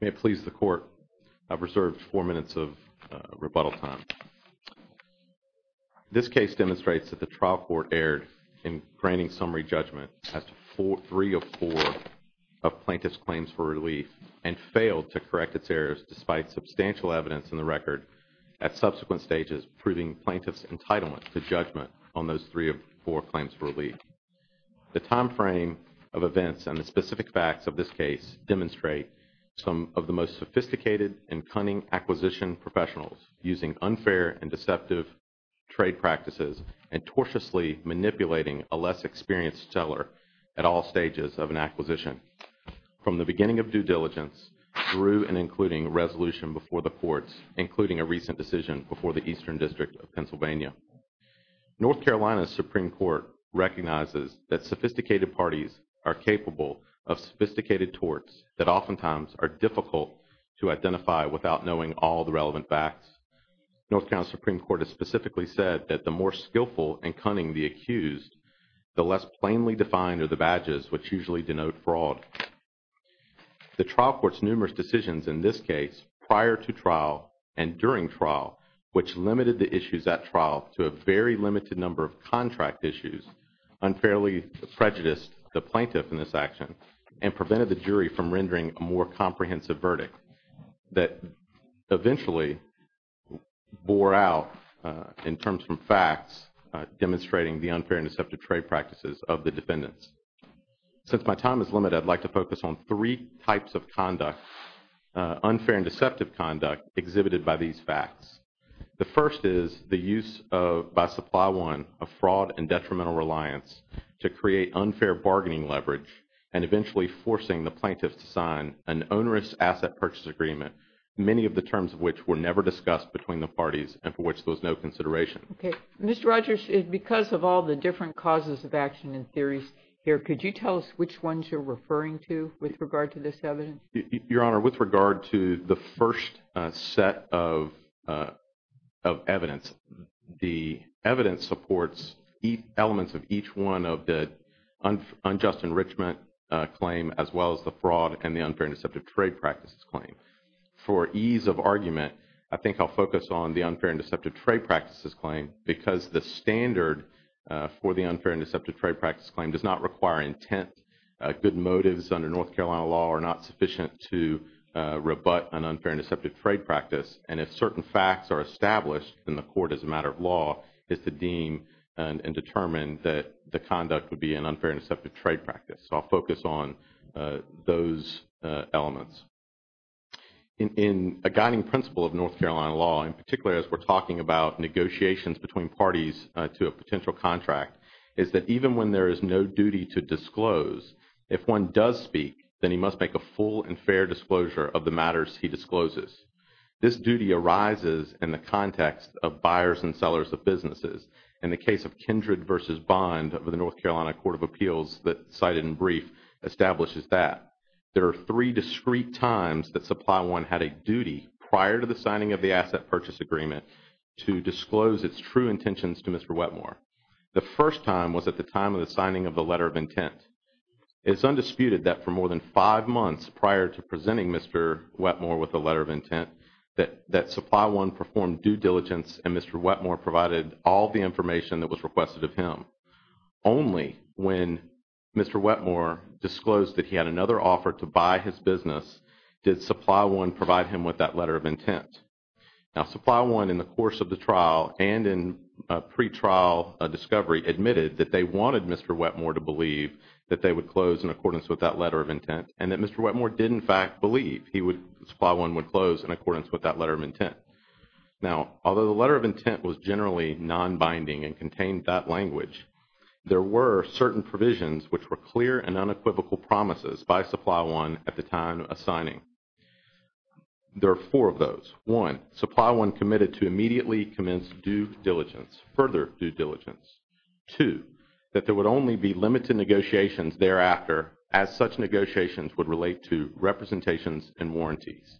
May it please the Court, I've reserved four minutes of rebuttal time. This case demonstrates that the trial court erred in granting summary judgment as to three of four of plaintiff's claims for relief and failed to correct its errors despite substantial evidence in the record at subsequent stages proving plaintiff's entitlement to judgment on those three of four claims for relief. The time frame of events and the specific facts of this case demonstrate some of the most sophisticated and cunning acquisition professionals using unfair and deceptive trade practices and tortiously manipulating a less experienced seller at all stages of an acquisition. From the beginning of due diligence through and including resolution before the courts including a recent decision before the Eastern District of Pennsylvania, North Carolina recognizes that sophisticated parties are capable of sophisticated torts that oftentimes are difficult to identify without knowing all the relevant facts. North Carolina Supreme Court has specifically said that the more skillful and cunning the accused, the less plainly defined are the badges which usually denote fraud. The trial court's numerous decisions in this case prior to trial and during trial which limited the issues at trial to a very unfairly prejudiced the plaintiff in this action and prevented the jury from rendering a more comprehensive verdict that eventually bore out in terms from facts demonstrating the unfair and deceptive trade practices of the defendants. Since my time is limited, I'd like to focus on three types of conduct, unfair and deceptive conduct exhibited by these facts. The first is the use of by Supply One of fraud and detrimental reliance to create unfair bargaining leverage and eventually forcing the plaintiffs to sign an onerous asset purchase agreement, many of the terms of which were never discussed between the parties and for which there was no consideration. Okay, Mr. Rogers, because of all the different causes of action and theories here, could you tell us which ones you're referring to with regard to this evidence? Your Honor, with regard to the first set of evidence, the evidence supports elements of each one of the unjust enrichment claim as well as the fraud and the unfair and deceptive trade practices claim. For ease of argument, I think I'll focus on the unfair and deceptive trade practices claim because the standard for the unfair and deceptive trade practice claim does not require intent. Good motives under North Carolina law are not sufficient to rebut an unfair and deceptive trade practice, and if certain facts are established in the court as a matter of law, it's to deem and determine that the conduct would be an unfair and deceptive trade practice. So I'll focus on those elements. In a guiding principle of North Carolina law, in particular as we're talking about negotiations between parties to a potential contract, is that even when there is no duty to disclose, if one does speak, then he must make a full and fair disclosure of the matters he discloses. This duty arises in the context of buyers and sellers of businesses. In the case of Kindred v. Bond of the North Carolina Court of Appeals that cited in brief establishes that. There are three discrete times that Supply One had a duty prior to the signing of the asset purchase agreement to disclose its true intentions to Mr. Wetmore. The first time was at the time of the signing of the contract for more than five months prior to presenting Mr. Wetmore with a letter of intent that Supply One performed due diligence and Mr. Wetmore provided all the information that was requested of him. Only when Mr. Wetmore disclosed that he had another offer to buy his business did Supply One provide him with that letter of intent. Now Supply One in the course of the trial and in pretrial discovery admitted that they wanted Mr. Wetmore to believe that they would close in accordance with that letter of intent and that Mr. Wetmore did in fact believe he would Supply One would close in accordance with that letter of intent. Now although the letter of intent was generally non-binding and contained that language, there were certain provisions which were clear and unequivocal promises by Supply One at the time of signing. There are four of those. One, Supply One committed to immediately commence due diligence, further due diligence. Two, that there would only be limited negotiations thereafter as such negotiations would relate to representations and warranties.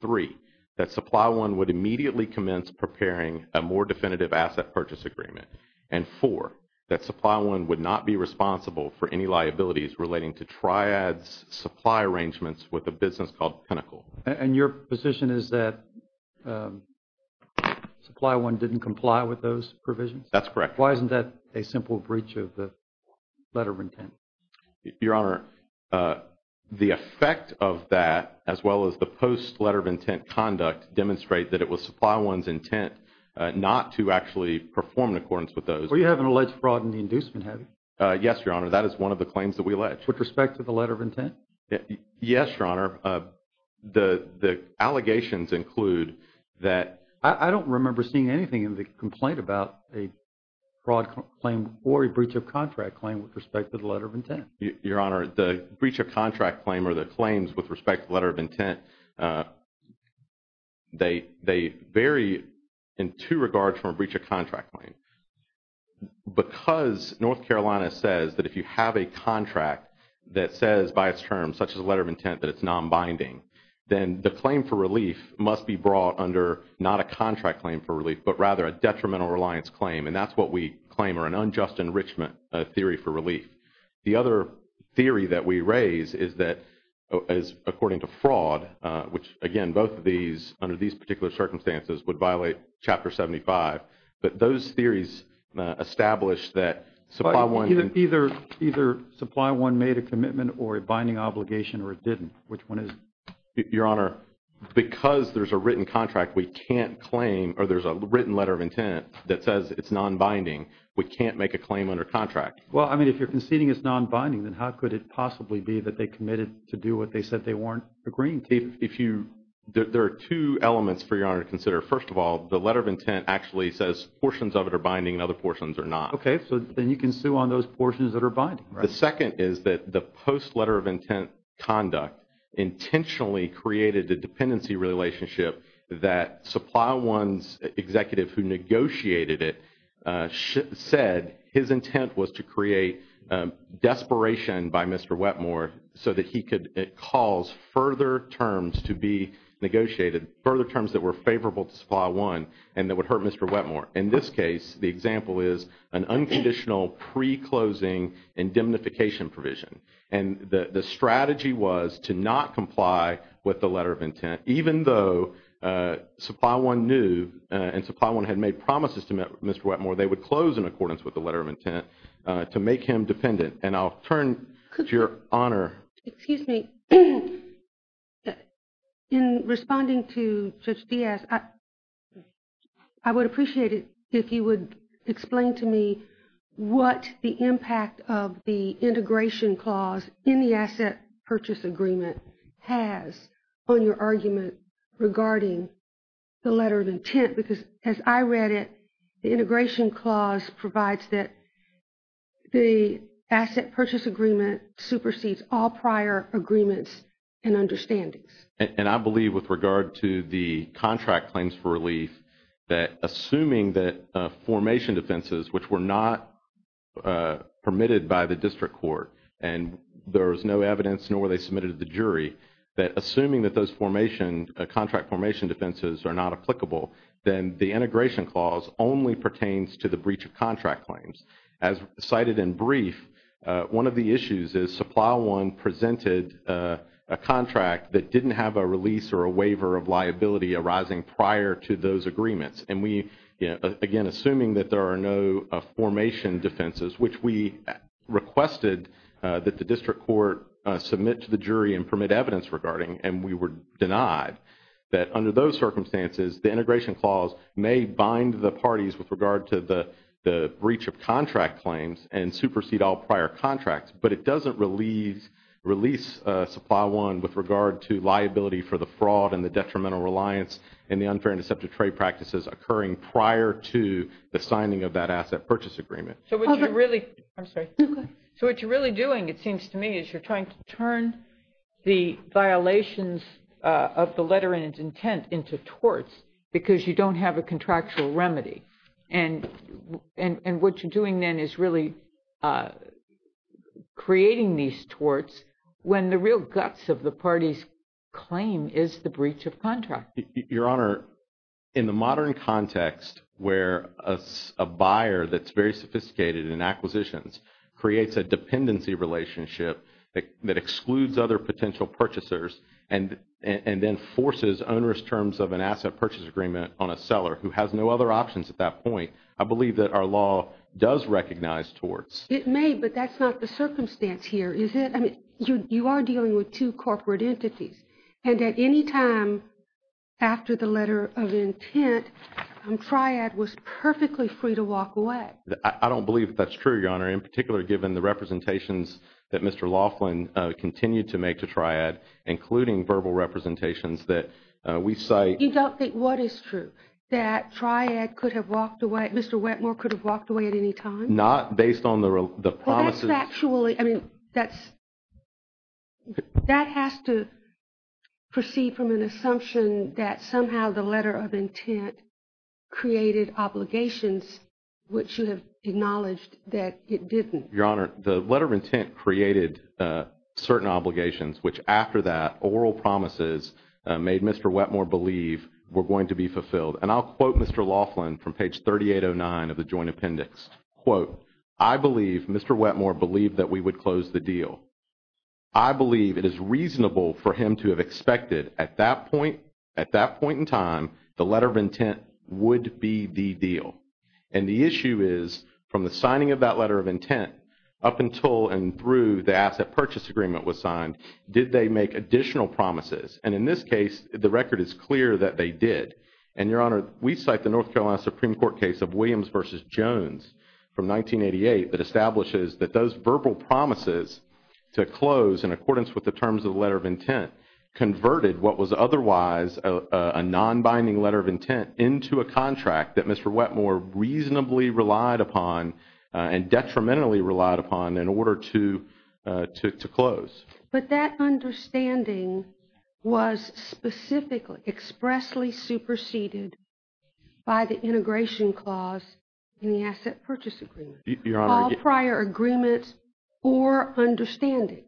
Three, that Supply One would immediately commence preparing a more definitive asset purchase agreement. And four, that Supply One would not be responsible for any liabilities relating to triads supply arrangements with a business called Pinnacle. And your position is that Supply One didn't comply with those provisions? That's correct. Why isn't that a simple breach of the letter of intent? Your Honor, the effect of that as well as the post letter of intent conduct demonstrate that it was Supply One's intent not to actually perform in accordance with those. Well you haven't alleged fraud in the inducement, have you? Yes, Your Honor. That is one of the claims that we alleged. With respect to the letter of intent? Yes, Your Honor. The the allegations include that... I don't remember seeing anything in the complaint about a fraud claim or a letter of intent. Your Honor, the breach of contract claim or the claims with respect to letter of intent, they vary in two regards from a breach of contract claim. Because North Carolina says that if you have a contract that says by its terms such as a letter of intent that it's non-binding, then the claim for relief must be brought under not a contract claim for relief but rather a detrimental reliance claim and that's what we claim or an unjust enrichment theory for relief. The other theory that we raise is that according to fraud, which again both of these under these particular circumstances would violate Chapter 75, but those theories establish that Supply One... Either Supply One made a commitment or a binding obligation or it didn't. Which one is it? Your Honor, because there's a written contract we can't claim or there's a written letter of intent that says it's non-binding, we can't make a claim under contract. Well, I mean if you're conceding it's non-binding, then how could it possibly be that they committed to do what they said they weren't agreeing to? There are two elements for Your Honor to consider. First of all, the letter of intent actually says portions of it are binding and other portions are not. Okay, so then you can sue on those portions that are binding. The second is that the post letter of intent conduct intentionally created a dependency relationship that Supply One's executive who negotiated it said his intent was to create desperation by Mr. Wetmore so that he could cause further terms to be negotiated, further terms that were favorable to Supply One and that would hurt Mr. Wetmore. In this case, the example is an unconditional pre-closing indemnification provision. And the strategy was to not comply with the letter of intent even though Supply One knew and Supply One had made promises to Mr. Wetmore they would close in accordance with the letter of intent to make him dependent. And I'll turn to Your Honor. Excuse me. In responding to Judge Diaz, I would appreciate it if you would explain to me what the impact of the integration clause in the asset purchase agreement has on your argument regarding the letter of intent. Because as I read it, the integration clause provides that the asset purchase agreement supersedes all prior agreements and understandings. And I believe with regard to the contract claims for relief that assuming that formation defenses which were not permitted by the district court and there was no evidence nor were they submitted to the jury, that assuming that those contract formation defenses are not applicable, then the integration clause only pertains to the breach of contract claims. As cited in brief, one of the issues is Supply One presented a contract that didn't have a release or a waiver of liability arising prior to those agreements. And we again assuming that there are no formation defenses, which we requested that the district court submit to the jury and permit evidence regarding, and we were denied, that under those circumstances the integration clause may bind the parties with regard to the breach of contract claims and supersede all prior contracts. But it doesn't release Supply One with regard to liability for the fraud and the detrimental reliance and the unfair and deceptive trade practices occurring prior to the signing of that asset purchase agreement. So what you're really doing, it seems to me, is you're trying to turn the violations of the letter and its intent into torts because you don't have a contractual remedy. And what you're doing then is really creating these torts when the real guts of the party's claim is the breach of contract. Your Honor, in the modern context where a buyer that's very sophisticated in acquisitions creates a dependency relationship that excludes other potential purchasers and then forces onerous terms of an asset purchase agreement on a seller who has no other options at that point, I believe that our law does recognize torts. It may, but that's not the circumstance here, is it? You are dealing with two corporate entities and at any time after the letter of intent, Triad was perfectly free to walk away. I don't believe that's true, Your Honor, in particular given the representations that Mr. Laughlin continued to make to Triad, including verbal representations that we cite. You don't think what is true? That Triad could have walked away, Mr. Wetmore could have walked away at any time? Not based on the promises. Well that's factually, I mean that has to proceed from an assumption that somehow the letter of intent created obligations which you have acknowledged that it didn't. Your Honor, the letter of intent created certain obligations which after that oral promises made Mr. Wetmore believe were going to be fulfilled and I'll quote Mr. Laughlin from page 3809 of the joint appendix. Quote, I believe Mr. Wetmore believed that we would close the deal. I believe it is reasonable for him to have expected at that point, at that point in time, the letter of intent would be the deal. And the issue is from the signing of that letter of intent up until and through the asset purchase agreement was signed, did they make additional promises? And in this case, the record is clear that they did. And Your Honor, we cite the North Carolina Supreme Court case of Williams versus Jones from 1988 that those verbal promises to close in accordance with the terms of the letter of intent converted what was otherwise a non-binding letter of intent into a contract that Mr. Wetmore reasonably relied upon and detrimentally relied upon in order to close. But that understanding was specifically, expressly superseded by the integration clause in the asset purchase agreement. All prior agreement or understandings.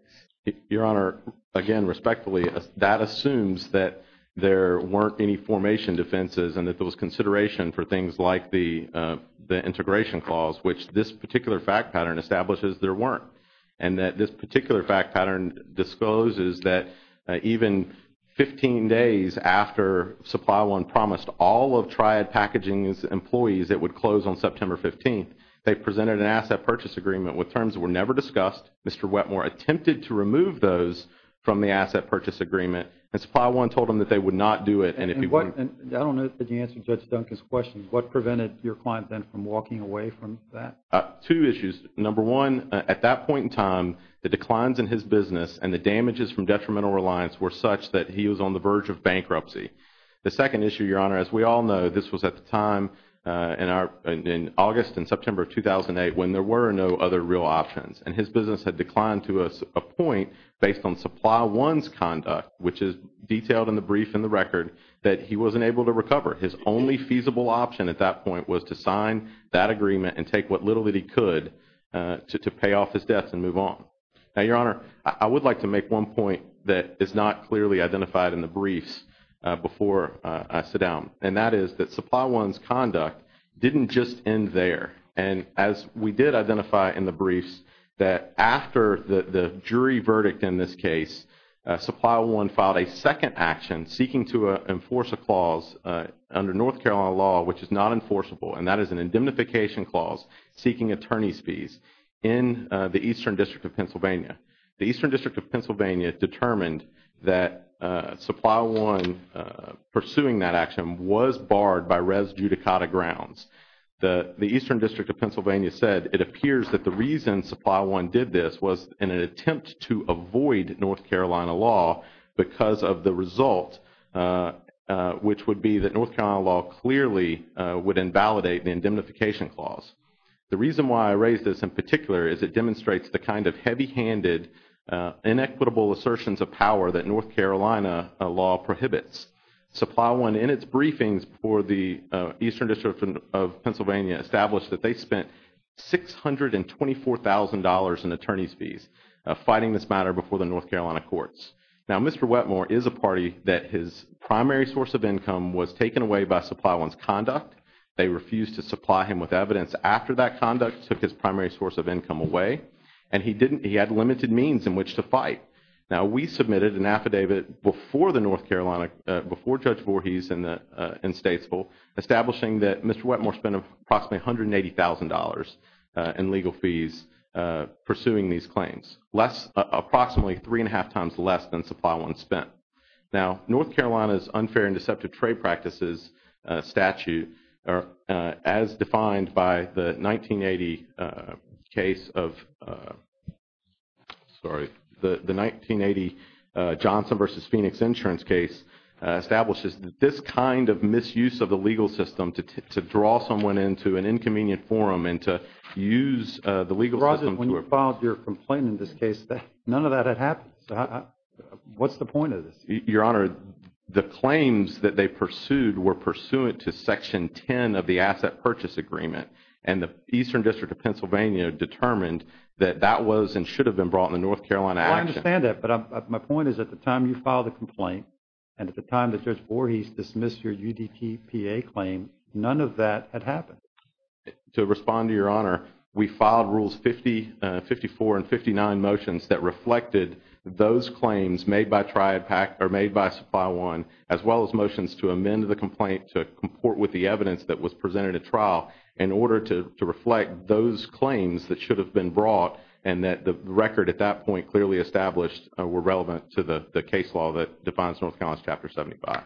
Your Honor, again respectfully, that assumes that there weren't any formation defenses and that there was consideration for things like the the integration clause which this particular fact pattern establishes there weren't. And that this particular fact pattern discloses that even 15 days after Supply One promised all of Triad Packaging's would close on September 15th, they presented an asset purchase agreement with terms were never discussed. Mr. Wetmore attempted to remove those from the asset purchase agreement and Supply One told him that they would not do it. And I don't know if you answered Judge Duncan's question. What prevented your client then from walking away from that? Two issues. Number one, at that point in time, the declines in his business and the damages from detrimental reliance were such that he was on the verge of bankruptcy. The second issue, Your Honor, as we all know, this was at the time in our in August and September 2008 when there were no other real options. And his business had declined to a point based on Supply One's conduct, which is detailed in the brief in the record, that he wasn't able to recover. His only feasible option at that point was to sign that agreement and take what little that he could to pay off his debts and move on. Now, Your Honor, I would like to make one point that is not clearly identified in the briefs before I sit down. And that is that Supply One's conduct didn't just end there. And as we did identify in the briefs, that after the jury verdict in this case, Supply One filed a second action seeking to enforce a clause under North Carolina law which is not enforceable. And that is an indemnification clause seeking attorney's fees in the Eastern District of Pennsylvania. The Eastern District of Pennsylvania determined that Supply One pursuing that action was barred by res judicata grounds. The Eastern District of Pennsylvania said it appears that the reason Supply One did this was in an attempt to avoid North Carolina law because of the result, which would be that North Carolina law clearly would invalidate the indemnification clause. The reason why I raise this in particular is it demonstrates the kind of heavy-handed, inequitable assertions of power that North Carolina law prohibits. Supply One in its briefings for the Eastern District of Pennsylvania established that they spent $624,000 in attorney's fees fighting this matter before the North Carolina courts. Now, Mr. Wetmore is a party that his primary source of income was taken away by Supply One's conduct. They refused to after that conduct, took his primary source of income away, and he didn't, he had limited means in which to fight. Now, we submitted an affidavit before the North Carolina, before Judge Voorhees in Statesville, establishing that Mr. Wetmore spent approximately $180,000 in legal fees pursuing these claims. Less, approximately three and a half times less than Supply One spent. Now, North Carolina's unfair and deceptive trade practices statute, as defined by the 1980 case of, sorry, the 1980 Johnson v. Phoenix insurance case, establishes that this kind of misuse of the legal system to draw someone into an inconvenient forum and to use the legal system to... Rogers, when you filed your complaint in this case, none of that had happened. What's the point of this? Your Honor, the claims that they pursued were pursuant to Section 10 of the Asset Purchase Agreement, and the Eastern District of Pennsylvania determined that that was and should have been brought in the North Carolina action. Well, I understand that, but my point is, at the time you filed the complaint, and at the time that Judge Voorhees dismissed your UDTPA claim, none of that had happened. To respond to your Honor, we filed Rules 50, 54, and 59 motions that reflected those claims made by Triad PAC, or made by Supply One, as well as motions to amend the complaint to comport with the evidence that was presented at trial, in order to reflect those claims that should have been brought, and that the record at that point clearly established were relevant to the case law that defines North Carolina's Chapter 75.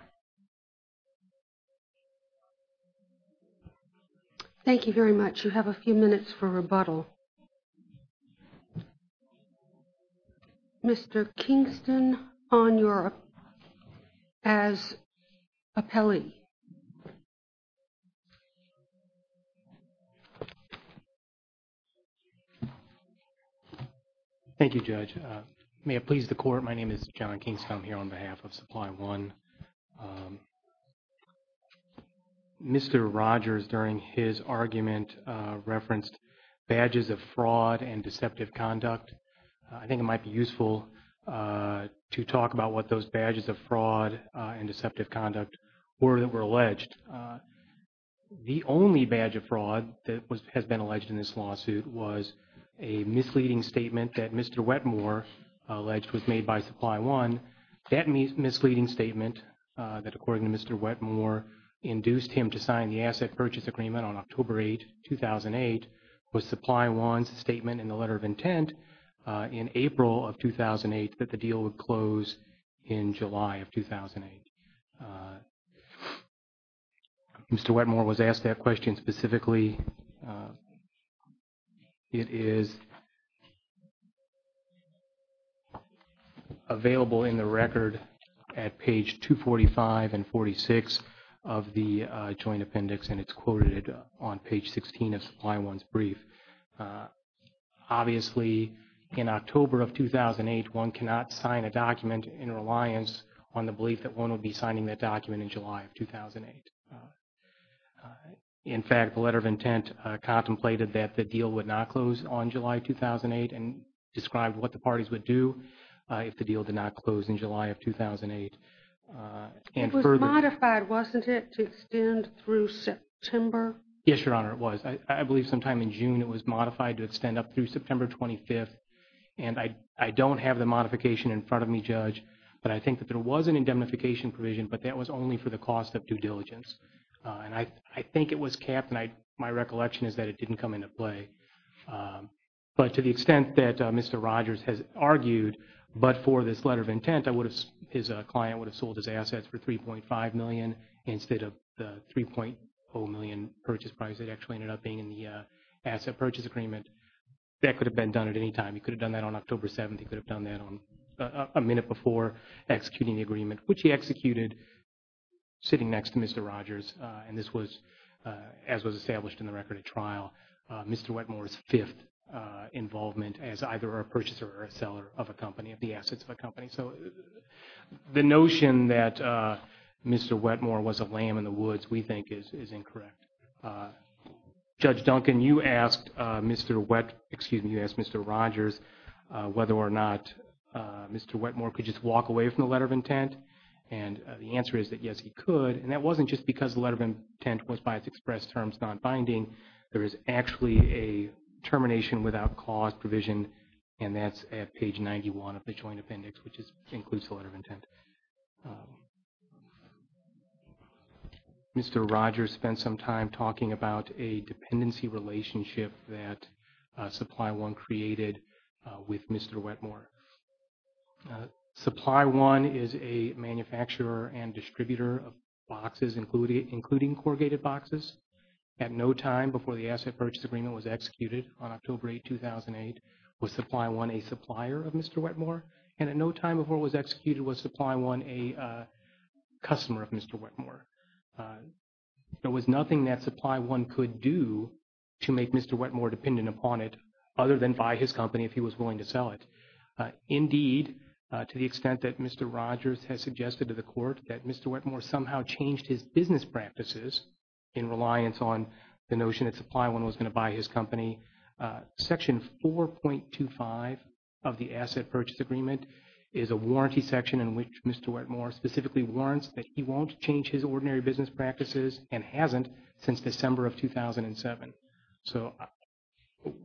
Thank you very much. You have a few minutes for rebuttal. Mr. Kingston, on your, as appellee. Thank you, Judge. May it please the Court, my name is John Kingston. I'm here on to talk about the Badges of Fraud and Deceptive Conduct. I think it might be useful to talk about what those badges of fraud and deceptive conduct were that were alleged. The only badge of fraud that has been alleged in this lawsuit was a misleading statement that Mr. Wetmore alleged was made by Supply One. That misleading statement, that according to Mr. Wetmore, induced him to sign the Asset Purchase Agreement on Supply One's statement in the Letter of Intent in April of 2008, that the deal would close in July of 2008. Mr. Wetmore was asked that question specifically. It is available in the record at page 245 and 46 of the Joint Appendix, and it's quoted on page 16 of the Joint Appendix. Obviously, in October of 2008, one cannot sign a document in reliance on the belief that one would be signing that document in July of 2008. In fact, the Letter of Intent contemplated that the deal would not close on July 2008 and described what the parties would do if the deal did not close in July of 2008. It was modified, wasn't it, to extend through September? Yes, Your Honor, it was modified to extend up through September 25th, and I don't have the modification in front of me, Judge, but I think that there was an indemnification provision, but that was only for the cost of due diligence. And I think it was capped, and my recollection is that it didn't come into play. But to the extent that Mr. Rogers has argued, but for this Letter of Intent, his client would have sold his assets for $3.5 million instead of the $3.0 million purchase price that actually ended up being in the asset purchase agreement. That could have been done at any time. He could have done that on October 7th. He could have done that on a minute before executing the agreement, which he executed sitting next to Mr. Rogers. And this was, as was established in the record at trial, Mr. Wetmore's fifth involvement as either a purchaser or a seller of a company, of the assets of a company. So the notion that Mr. Wetmore was a lamb in the woods, we think, is incorrect. Judge Duncan, you asked Mr. Wetmore, excuse me, you asked Mr. Rogers whether or not Mr. Wetmore could just walk away from the Letter of Intent. And the answer is that, yes, he could. And that wasn't just because the Letter of Intent was, by its express terms, non-binding. There is actually a termination without cause provision, and that's at page 91 of the Joint Appendix, which includes the Letter of Intent. Mr. Rogers spent some time talking about a dependency relationship that Supply One created with Mr. Wetmore. Supply One is a manufacturer and distributor of boxes, including corrugated boxes. At no time before the asset purchase agreement was executed on October 8, 2008, was Supply One a supplier of Mr. Wetmore, and at no time before it was executed was Supply One a customer of Mr. Wetmore. There was nothing that Supply One could do to make Mr. Wetmore dependent upon it, other than buy his company if he was willing to sell it. Indeed, to the extent that Mr. Rogers has suggested to the Court that Mr. Wetmore somehow changed his business practices in reliance on the notion that Supply One was going to buy his company, Section 4.25 of the Asset Purchase Agreement is a warranty section in which Mr. Wetmore specifically warrants that he won't change his ordinary business practices and hasn't since December of 2007. So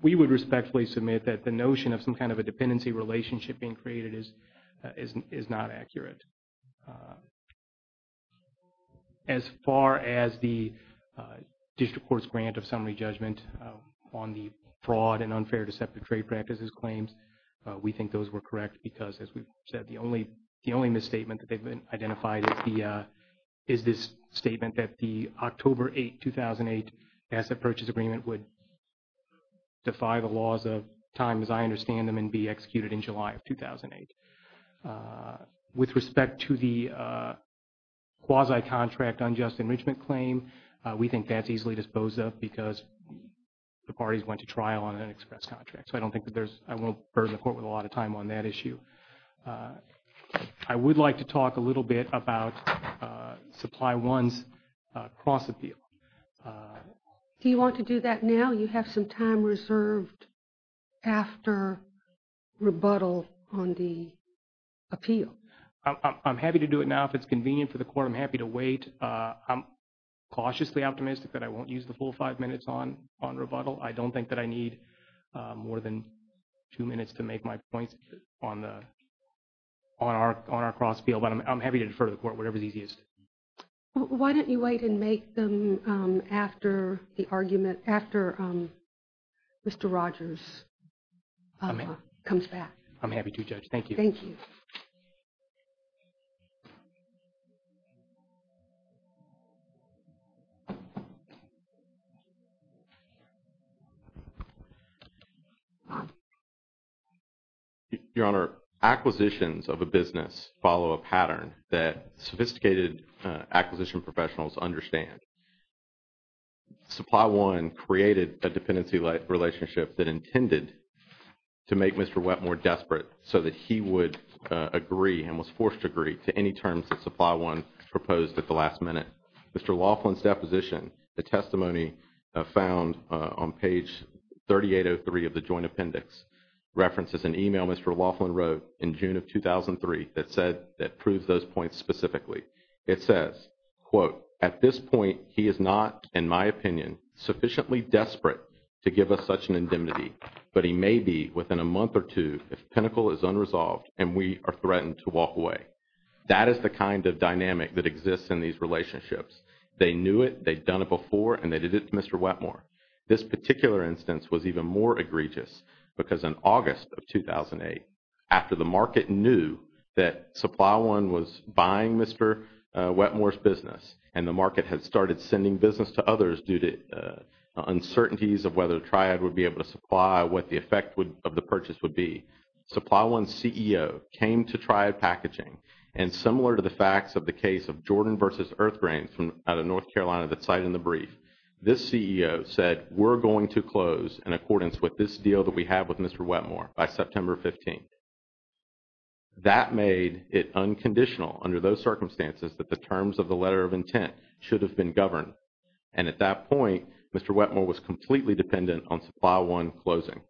we would respectfully submit that the notion of some kind of a dependency relationship being created is not accurate. As far as the District Court's judgment of summary judgment on the fraud and unfair deceptive trade practices claims, we think those were correct because, as we've said, the only misstatement that they've identified is this statement that the October 8, 2008, Asset Purchase Agreement would defy the laws of time, as I understand them, and be executed in July of 2008. With respect to the quasi-contract unjust enrichment claim, we think that's easily disposed of because the parties went to trial on an express contract. So I don't think that there's, I won't burden the Court with a lot of time on that issue. I would like to talk a little bit about Supply One's cross-appeal. Do you want to do that now? You have some time reserved after rebuttal on the appeal. I'm happy to do it now if it's convenient for the Court. I'm cautiously optimistic that I won't use the full five minutes on rebuttal. I don't think that I need more than two minutes to make my points on our cross-appeal, but I'm happy to defer to the Court, whatever's easiest. Why don't you wait and make them after the argument, after Mr. Rogers comes back? I'm happy to, Judge. Thank you. Thank you. Your Honor, acquisitions of a business follow a pattern that sophisticated acquisition professionals understand. Supply One created a dependency relationship that intended to make Mr. Wetmore desperate so that he would agree and was forced to to any terms that Supply One proposed at the last minute. Mr. Laughlin's deposition, the testimony found on page 3803 of the Joint Appendix, references an email Mr. Laughlin wrote in June of 2003 that said, that proves those points specifically. It says, quote, at this point he is not, in my opinion, sufficiently desperate to give us such an indemnity, but he may be within a month or two if threatened to walk away. That is the kind of dynamic that exists in these relationships. They knew it, they'd done it before, and they did it to Mr. Wetmore. This particular instance was even more egregious because in August of 2008, after the market knew that Supply One was buying Mr. Wetmore's business and the market had started sending business to others due to uncertainties of whether Triad would be able to supply, what the effect of the purchase would be, Supply One's CEO came to Triad Packaging, and similar to the facts of the case of Jordan versus Earthgrains from out of North Carolina that's cited in the brief, this CEO said, we're going to close in accordance with this deal that we have with Mr. Wetmore by September 15th. That made it unconditional under those circumstances that the terms of the letter of intent should have been governed, and at that point Mr. Wetmore was completely dependent on Supply One closing.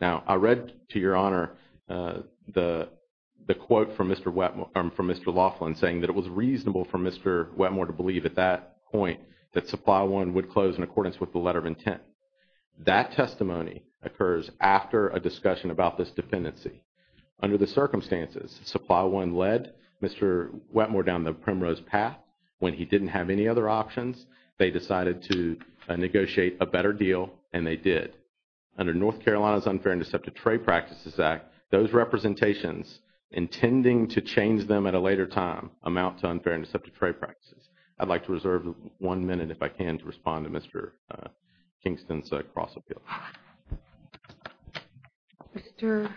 Now, I read to your honor the quote from Mr. Laughlin saying that it was reasonable for Mr. Wetmore to believe at that point that Supply One would close in accordance with the letter of intent. That testimony occurs after a discussion about this dependency. Under the circumstances, Supply One led Mr. Wetmore down the primrose path when he didn't have any other options, they decided to negotiate a better deal, and they did. Under North Carolina's Unfair and Deceptive Trade Practices Act, those representations intending to change them at a later time amount to unfair and deceptive trade practices. I'd like to reserve one minute if I can to respond to Mr. Kingston's cross-appeal. Mr.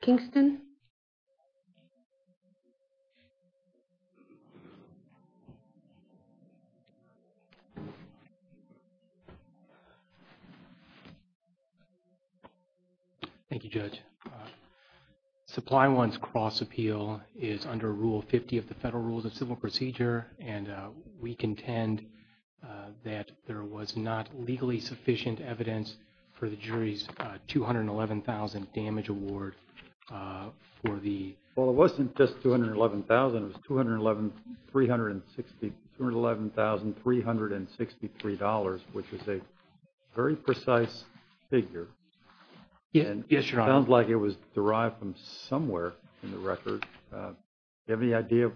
Kingston? Thank you, Judge. Supply One's cross-appeal is under Rule 50 of the Federal Rules of Civil Procedure, and we contend that there was not legally sufficient evidence for the jury's $211,000 damage award for the... Well, it wasn't just $211,000, it was $211,363, which is a very precise figure. Yes, your honor. It sounds like it was derived from somewhere in the record. Do you have any idea,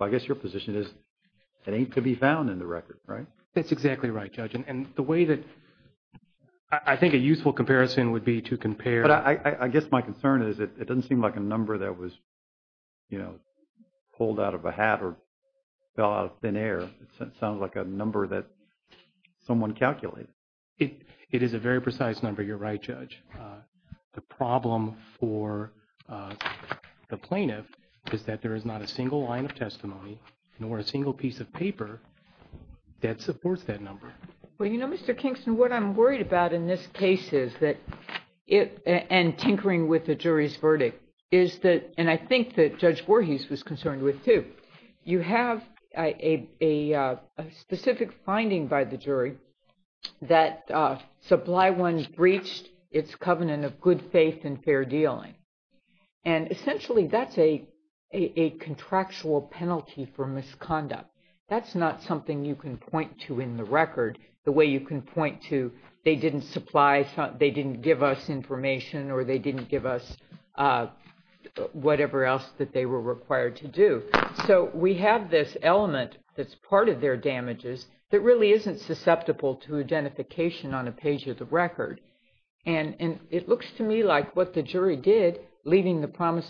I guess your position is, it ain't to be found in the record, right? That's exactly right, Judge, and the way that I think a useful comparison would be to compare... But I guess my concern is it doesn't seem like a number that was, you know, pulled out of a hat or fell out of thin air. It sounds like a number that someone calculated. It is a very precise number, you're right, Judge. The problem for the plaintiff is that there is not a number that supports that number. Well, you know, Mr. Kingston, what I'm worried about in this case is that it, and tinkering with the jury's verdict, is that, and I think that Judge Voorhees was concerned with too, you have a specific finding by the jury that Supply One breached its covenant of good faith and fair dealing, and essentially that's a contractual penalty for misconduct. That's not something you can point to in the record the way you can point to they didn't supply, they didn't give us information, or they didn't give us whatever else that they were required to do. So we have this element that's part of their damages that really isn't susceptible to identification on a page of the record, and it looks to me like what the jury did, leaving the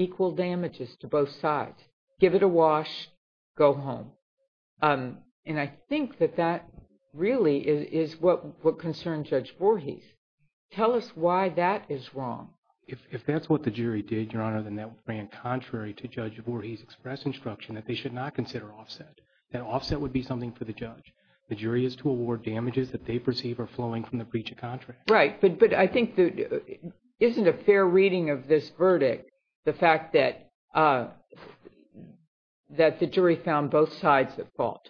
equal damages to both sides. Give it a wash, go home. And I think that that really is what concerns Judge Voorhees. Tell us why that is wrong. If that's what the jury did, Your Honor, then that ran contrary to Judge Voorhees' express instruction that they should not consider offset. That offset would be something for the judge. The jury is to award damages that they perceive are flowing from the breach of contract. Right, but I think there isn't a fair reading of this verdict, the fact that that the jury found both sides at fault.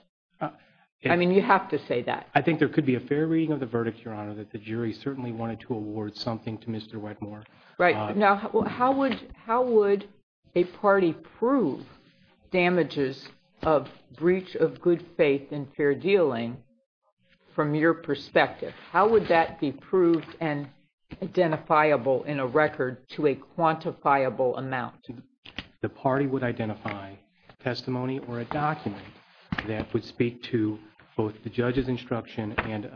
I mean, you have to say that. I think there could be a fair reading of the verdict, Your Honor, that the jury certainly wanted to award something to Mr. Wedmore. Right. Now, how would a party prove damages of breach of good faith and fair dealing from your perspective? How would that be proved and the record to a quantifiable amount? The party would identify testimony or a document that would speak to both the judge's instruction and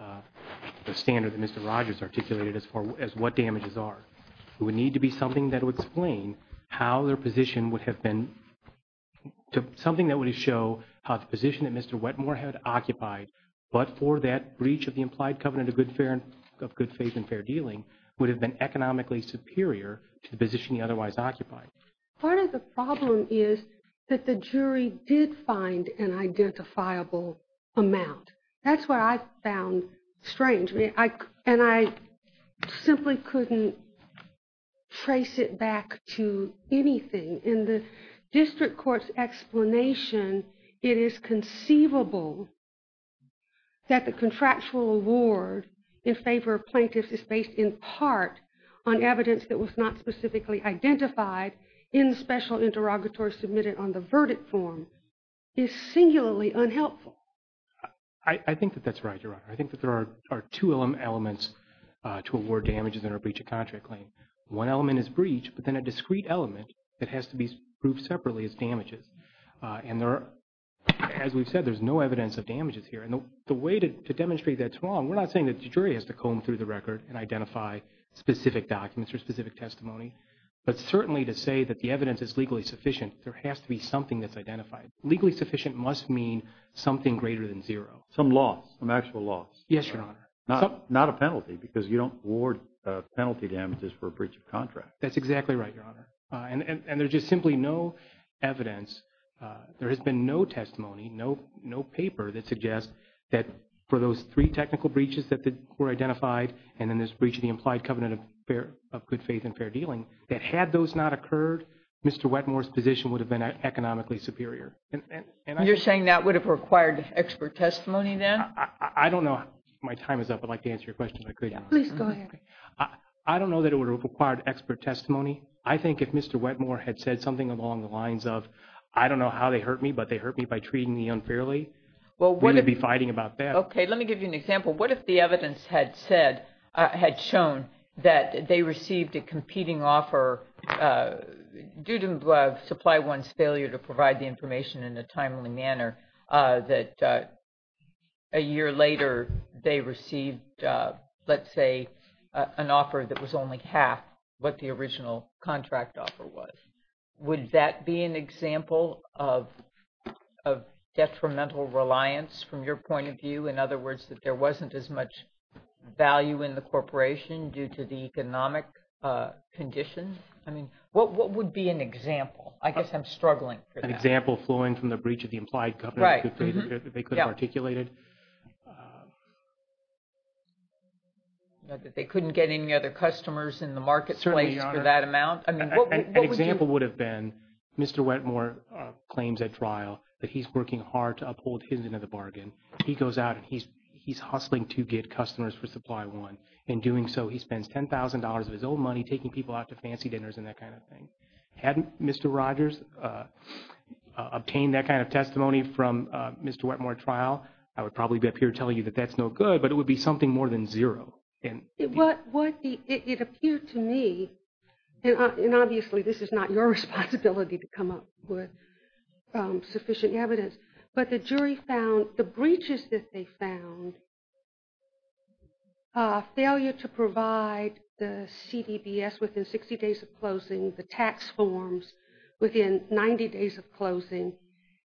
the standard that Mr. Rogers articulated as far as what damages are. It would need to be something that would explain how their position would have been, something that would show how the position that Mr. Wedmore had occupied, but for that breach of the implied covenant of good faith and fair dealing, would have been economically superior to the position he otherwise occupied. Part of the problem is that the jury did find an identifiable amount. That's what I found strange, and I simply couldn't trace it back to anything. In the district court's explanation, it is conceivable that the contractual award in favor of evidence that was not specifically identified in special interrogatory submitted on the verdict form is singularly unhelpful. I think that that's right, Your Honor. I think that there are two elements to award damages in a breach of contract claim. One element is breach, but then a discrete element that has to be proved separately is damages. And there are, as we've said, there's no evidence of damages here. And the way to demonstrate that's wrong, we're not saying that the jury has to comb through the record and identify specific documents or specific testimony, but certainly to say that the evidence is legally sufficient, there has to be something that's identified. Legally sufficient must mean something greater than zero. Some loss, some actual loss. Yes, Your Honor. Not a penalty, because you don't award penalty damages for a breach of contract. That's exactly right, Your Honor. And there's just simply no evidence, there has been no testimony, no paper that suggests that for those three technical breaches that were identified, and then this breach of the implied covenant of good faith and fair dealing, that had those not occurred, Mr. Wetmore's position would have been economically superior. You're saying that would have required expert testimony then? I don't know, my time is up, I'd like to answer your question if I could. Please go ahead. I don't know that it would have required expert testimony. I think if Mr. Wetmore had said something along the lines of, I don't know how they hurt me, but they hurt me by treating me as an example, what if the evidence had said, had shown, that they received a competing offer due to Supply One's failure to provide the information in a timely manner, that a year later they received, let's say, an offer that was only half what the original contract offer was. Would that be an example of there wasn't as much value in the corporation due to the economic conditions? I mean, what would be an example? I guess I'm struggling. An example flowing from the breach of the implied covenant of good faith that they could have articulated? That they couldn't get any other customers in the marketplace for that amount? An example would have been, Mr. Wetmore claims at trial that he's working hard to uphold his end of the bargain. He goes out and he's hustling to get customers for Supply One. In doing so, he spends $10,000 of his own money taking people out to fancy dinners and that kind of thing. Had Mr. Rogers obtained that kind of testimony from Mr. Wetmore at trial, I would probably be up here telling you that that's no good, but it would be something more than zero. It would be, it appeared to me, and obviously this is not your responsibility to come up with sufficient evidence, but the jury found, the breaches that they found, failure to provide the CDBS within 60 days of closing, the tax forms within 90 days of closing,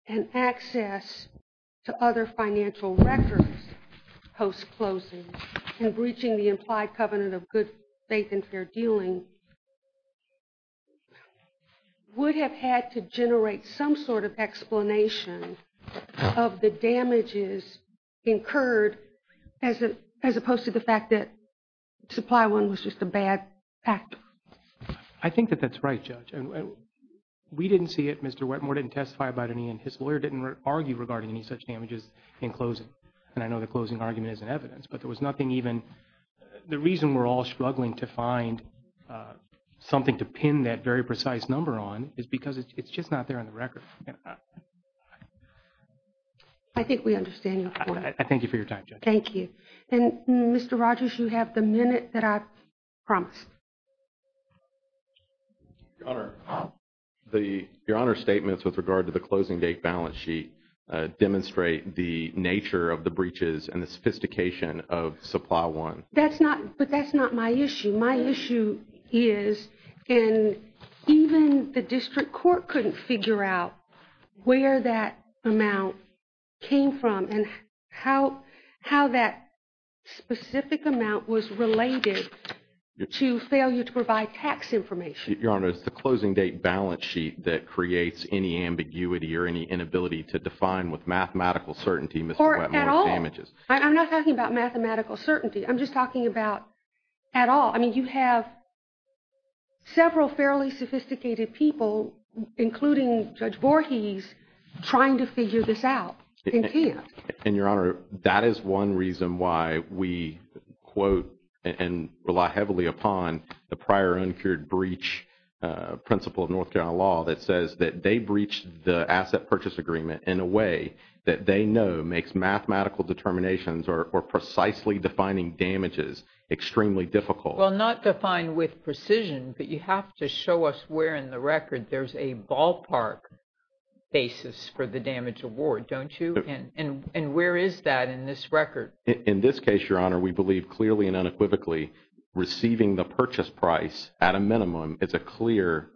and access to other financial records post-closing, and breaching the implied covenant of good faith and fair dealing, would have had to generate some sort of explanation of the damages incurred, as opposed to the fact that Supply One was just a bad act. I think that that's right, Judge, and we didn't see it, Mr. Wetmore didn't testify about any, and his lawyer didn't argue regarding any such damages in closing, and I know the closing argument isn't evidence, but there was nothing even, the reason we're all struggling to find something to pin that very precise number on is because it's just not there on the record. I think we understand your point. I thank you for your time, Judge. Thank you, and Mr. Rogers, you have the minute that I promised. Your Honor, the, your Honor's statements with regard to the closing date balance sheet demonstrate the nature of the breaches and the sophistication of Supply One. That's not, but that's not my issue. My issue is, and even the district court couldn't figure out where that amount came from, and how, how that specific amount was related to failure to provide tax information. Your Honor, it's the closing date balance sheet that creates any ambiguity or any inability to define with mathematical certainty, Mr. Wetmore's damages. I'm not talking about mathematical certainty, I'm just talking about at all. I mean, you have several fairly sophisticated people, including Judge Voorhees, trying to figure this out. And your Honor, that is one reason why we quote and rely heavily upon the prior uncured breach principle of North Carolina law that says that they breached the asset purchase agreement in a way that they know makes mathematical determinations or precisely defining damages extremely difficult. Well, not define with precision, but you have to show us where in the record there's a ballpark basis for the damage award, don't you? And, and, and where is that in this record? In this case, Your Honor, we believe clearly and unequivocally receiving the purchase price at a minimum is a clear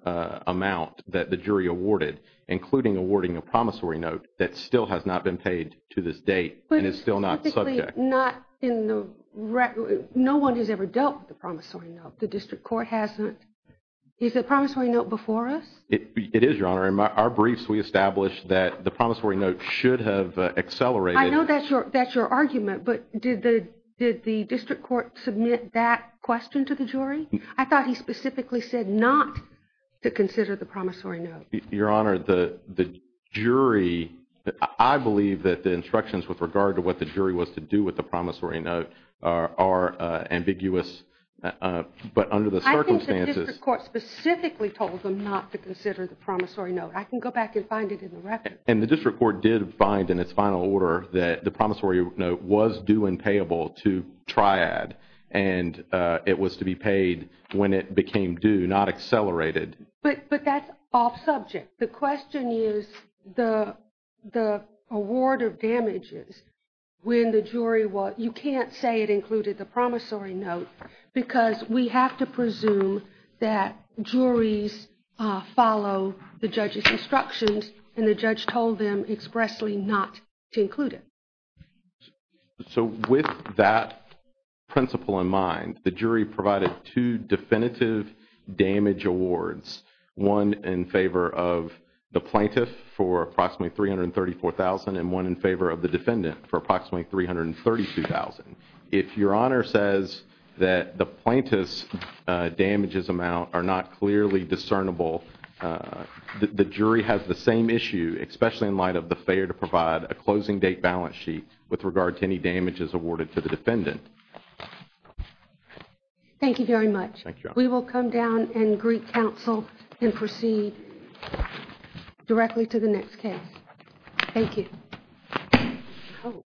amount that the jury awarded, including awarding a promissory note that still has not been paid to this date and is still not subject. Not in the record, no one has ever dealt with the promissory note, the district court hasn't. Is the promissory note before us? It is, Your Honor, in our briefs we establish that the promissory note should have accelerated. I know that's your, that's your argument, but did the, did the district court submit that question to the jury? I thought he specifically said not to consider the promissory note. Your Honor, the, the jury, I believe that the instructions with regard to what the jury was to do with the promissory note are, are ambiguous, but under the circumstances. I think the district court specifically told them not to consider the promissory note. I can go back and find it in the record. And the district court did find in its final order that the promissory note was due and payable to triad and it was to be paid when it became due, not accelerated. But, but that's off-subject. The question is the, the award of damages when the jury was, you can't say it included the promissory note because we have to presume that juries follow the judge's instructions and the judge told them expressly not to include it. So with that principle in mind, the jury provided two definitive damage awards, one in favor of the plaintiff for approximately $334,000 and one in favor of the defendant for approximately $332,000. If your Honor says that the plaintiff's damages amount are not clearly discernible, the jury has the same issue, especially in light of the failure to provide a closing date balance sheet with regard to any damages awarded to the defendant. Thank you very much. Thank you. We will come down and greet counsel and proceed directly to the next case. Thank you.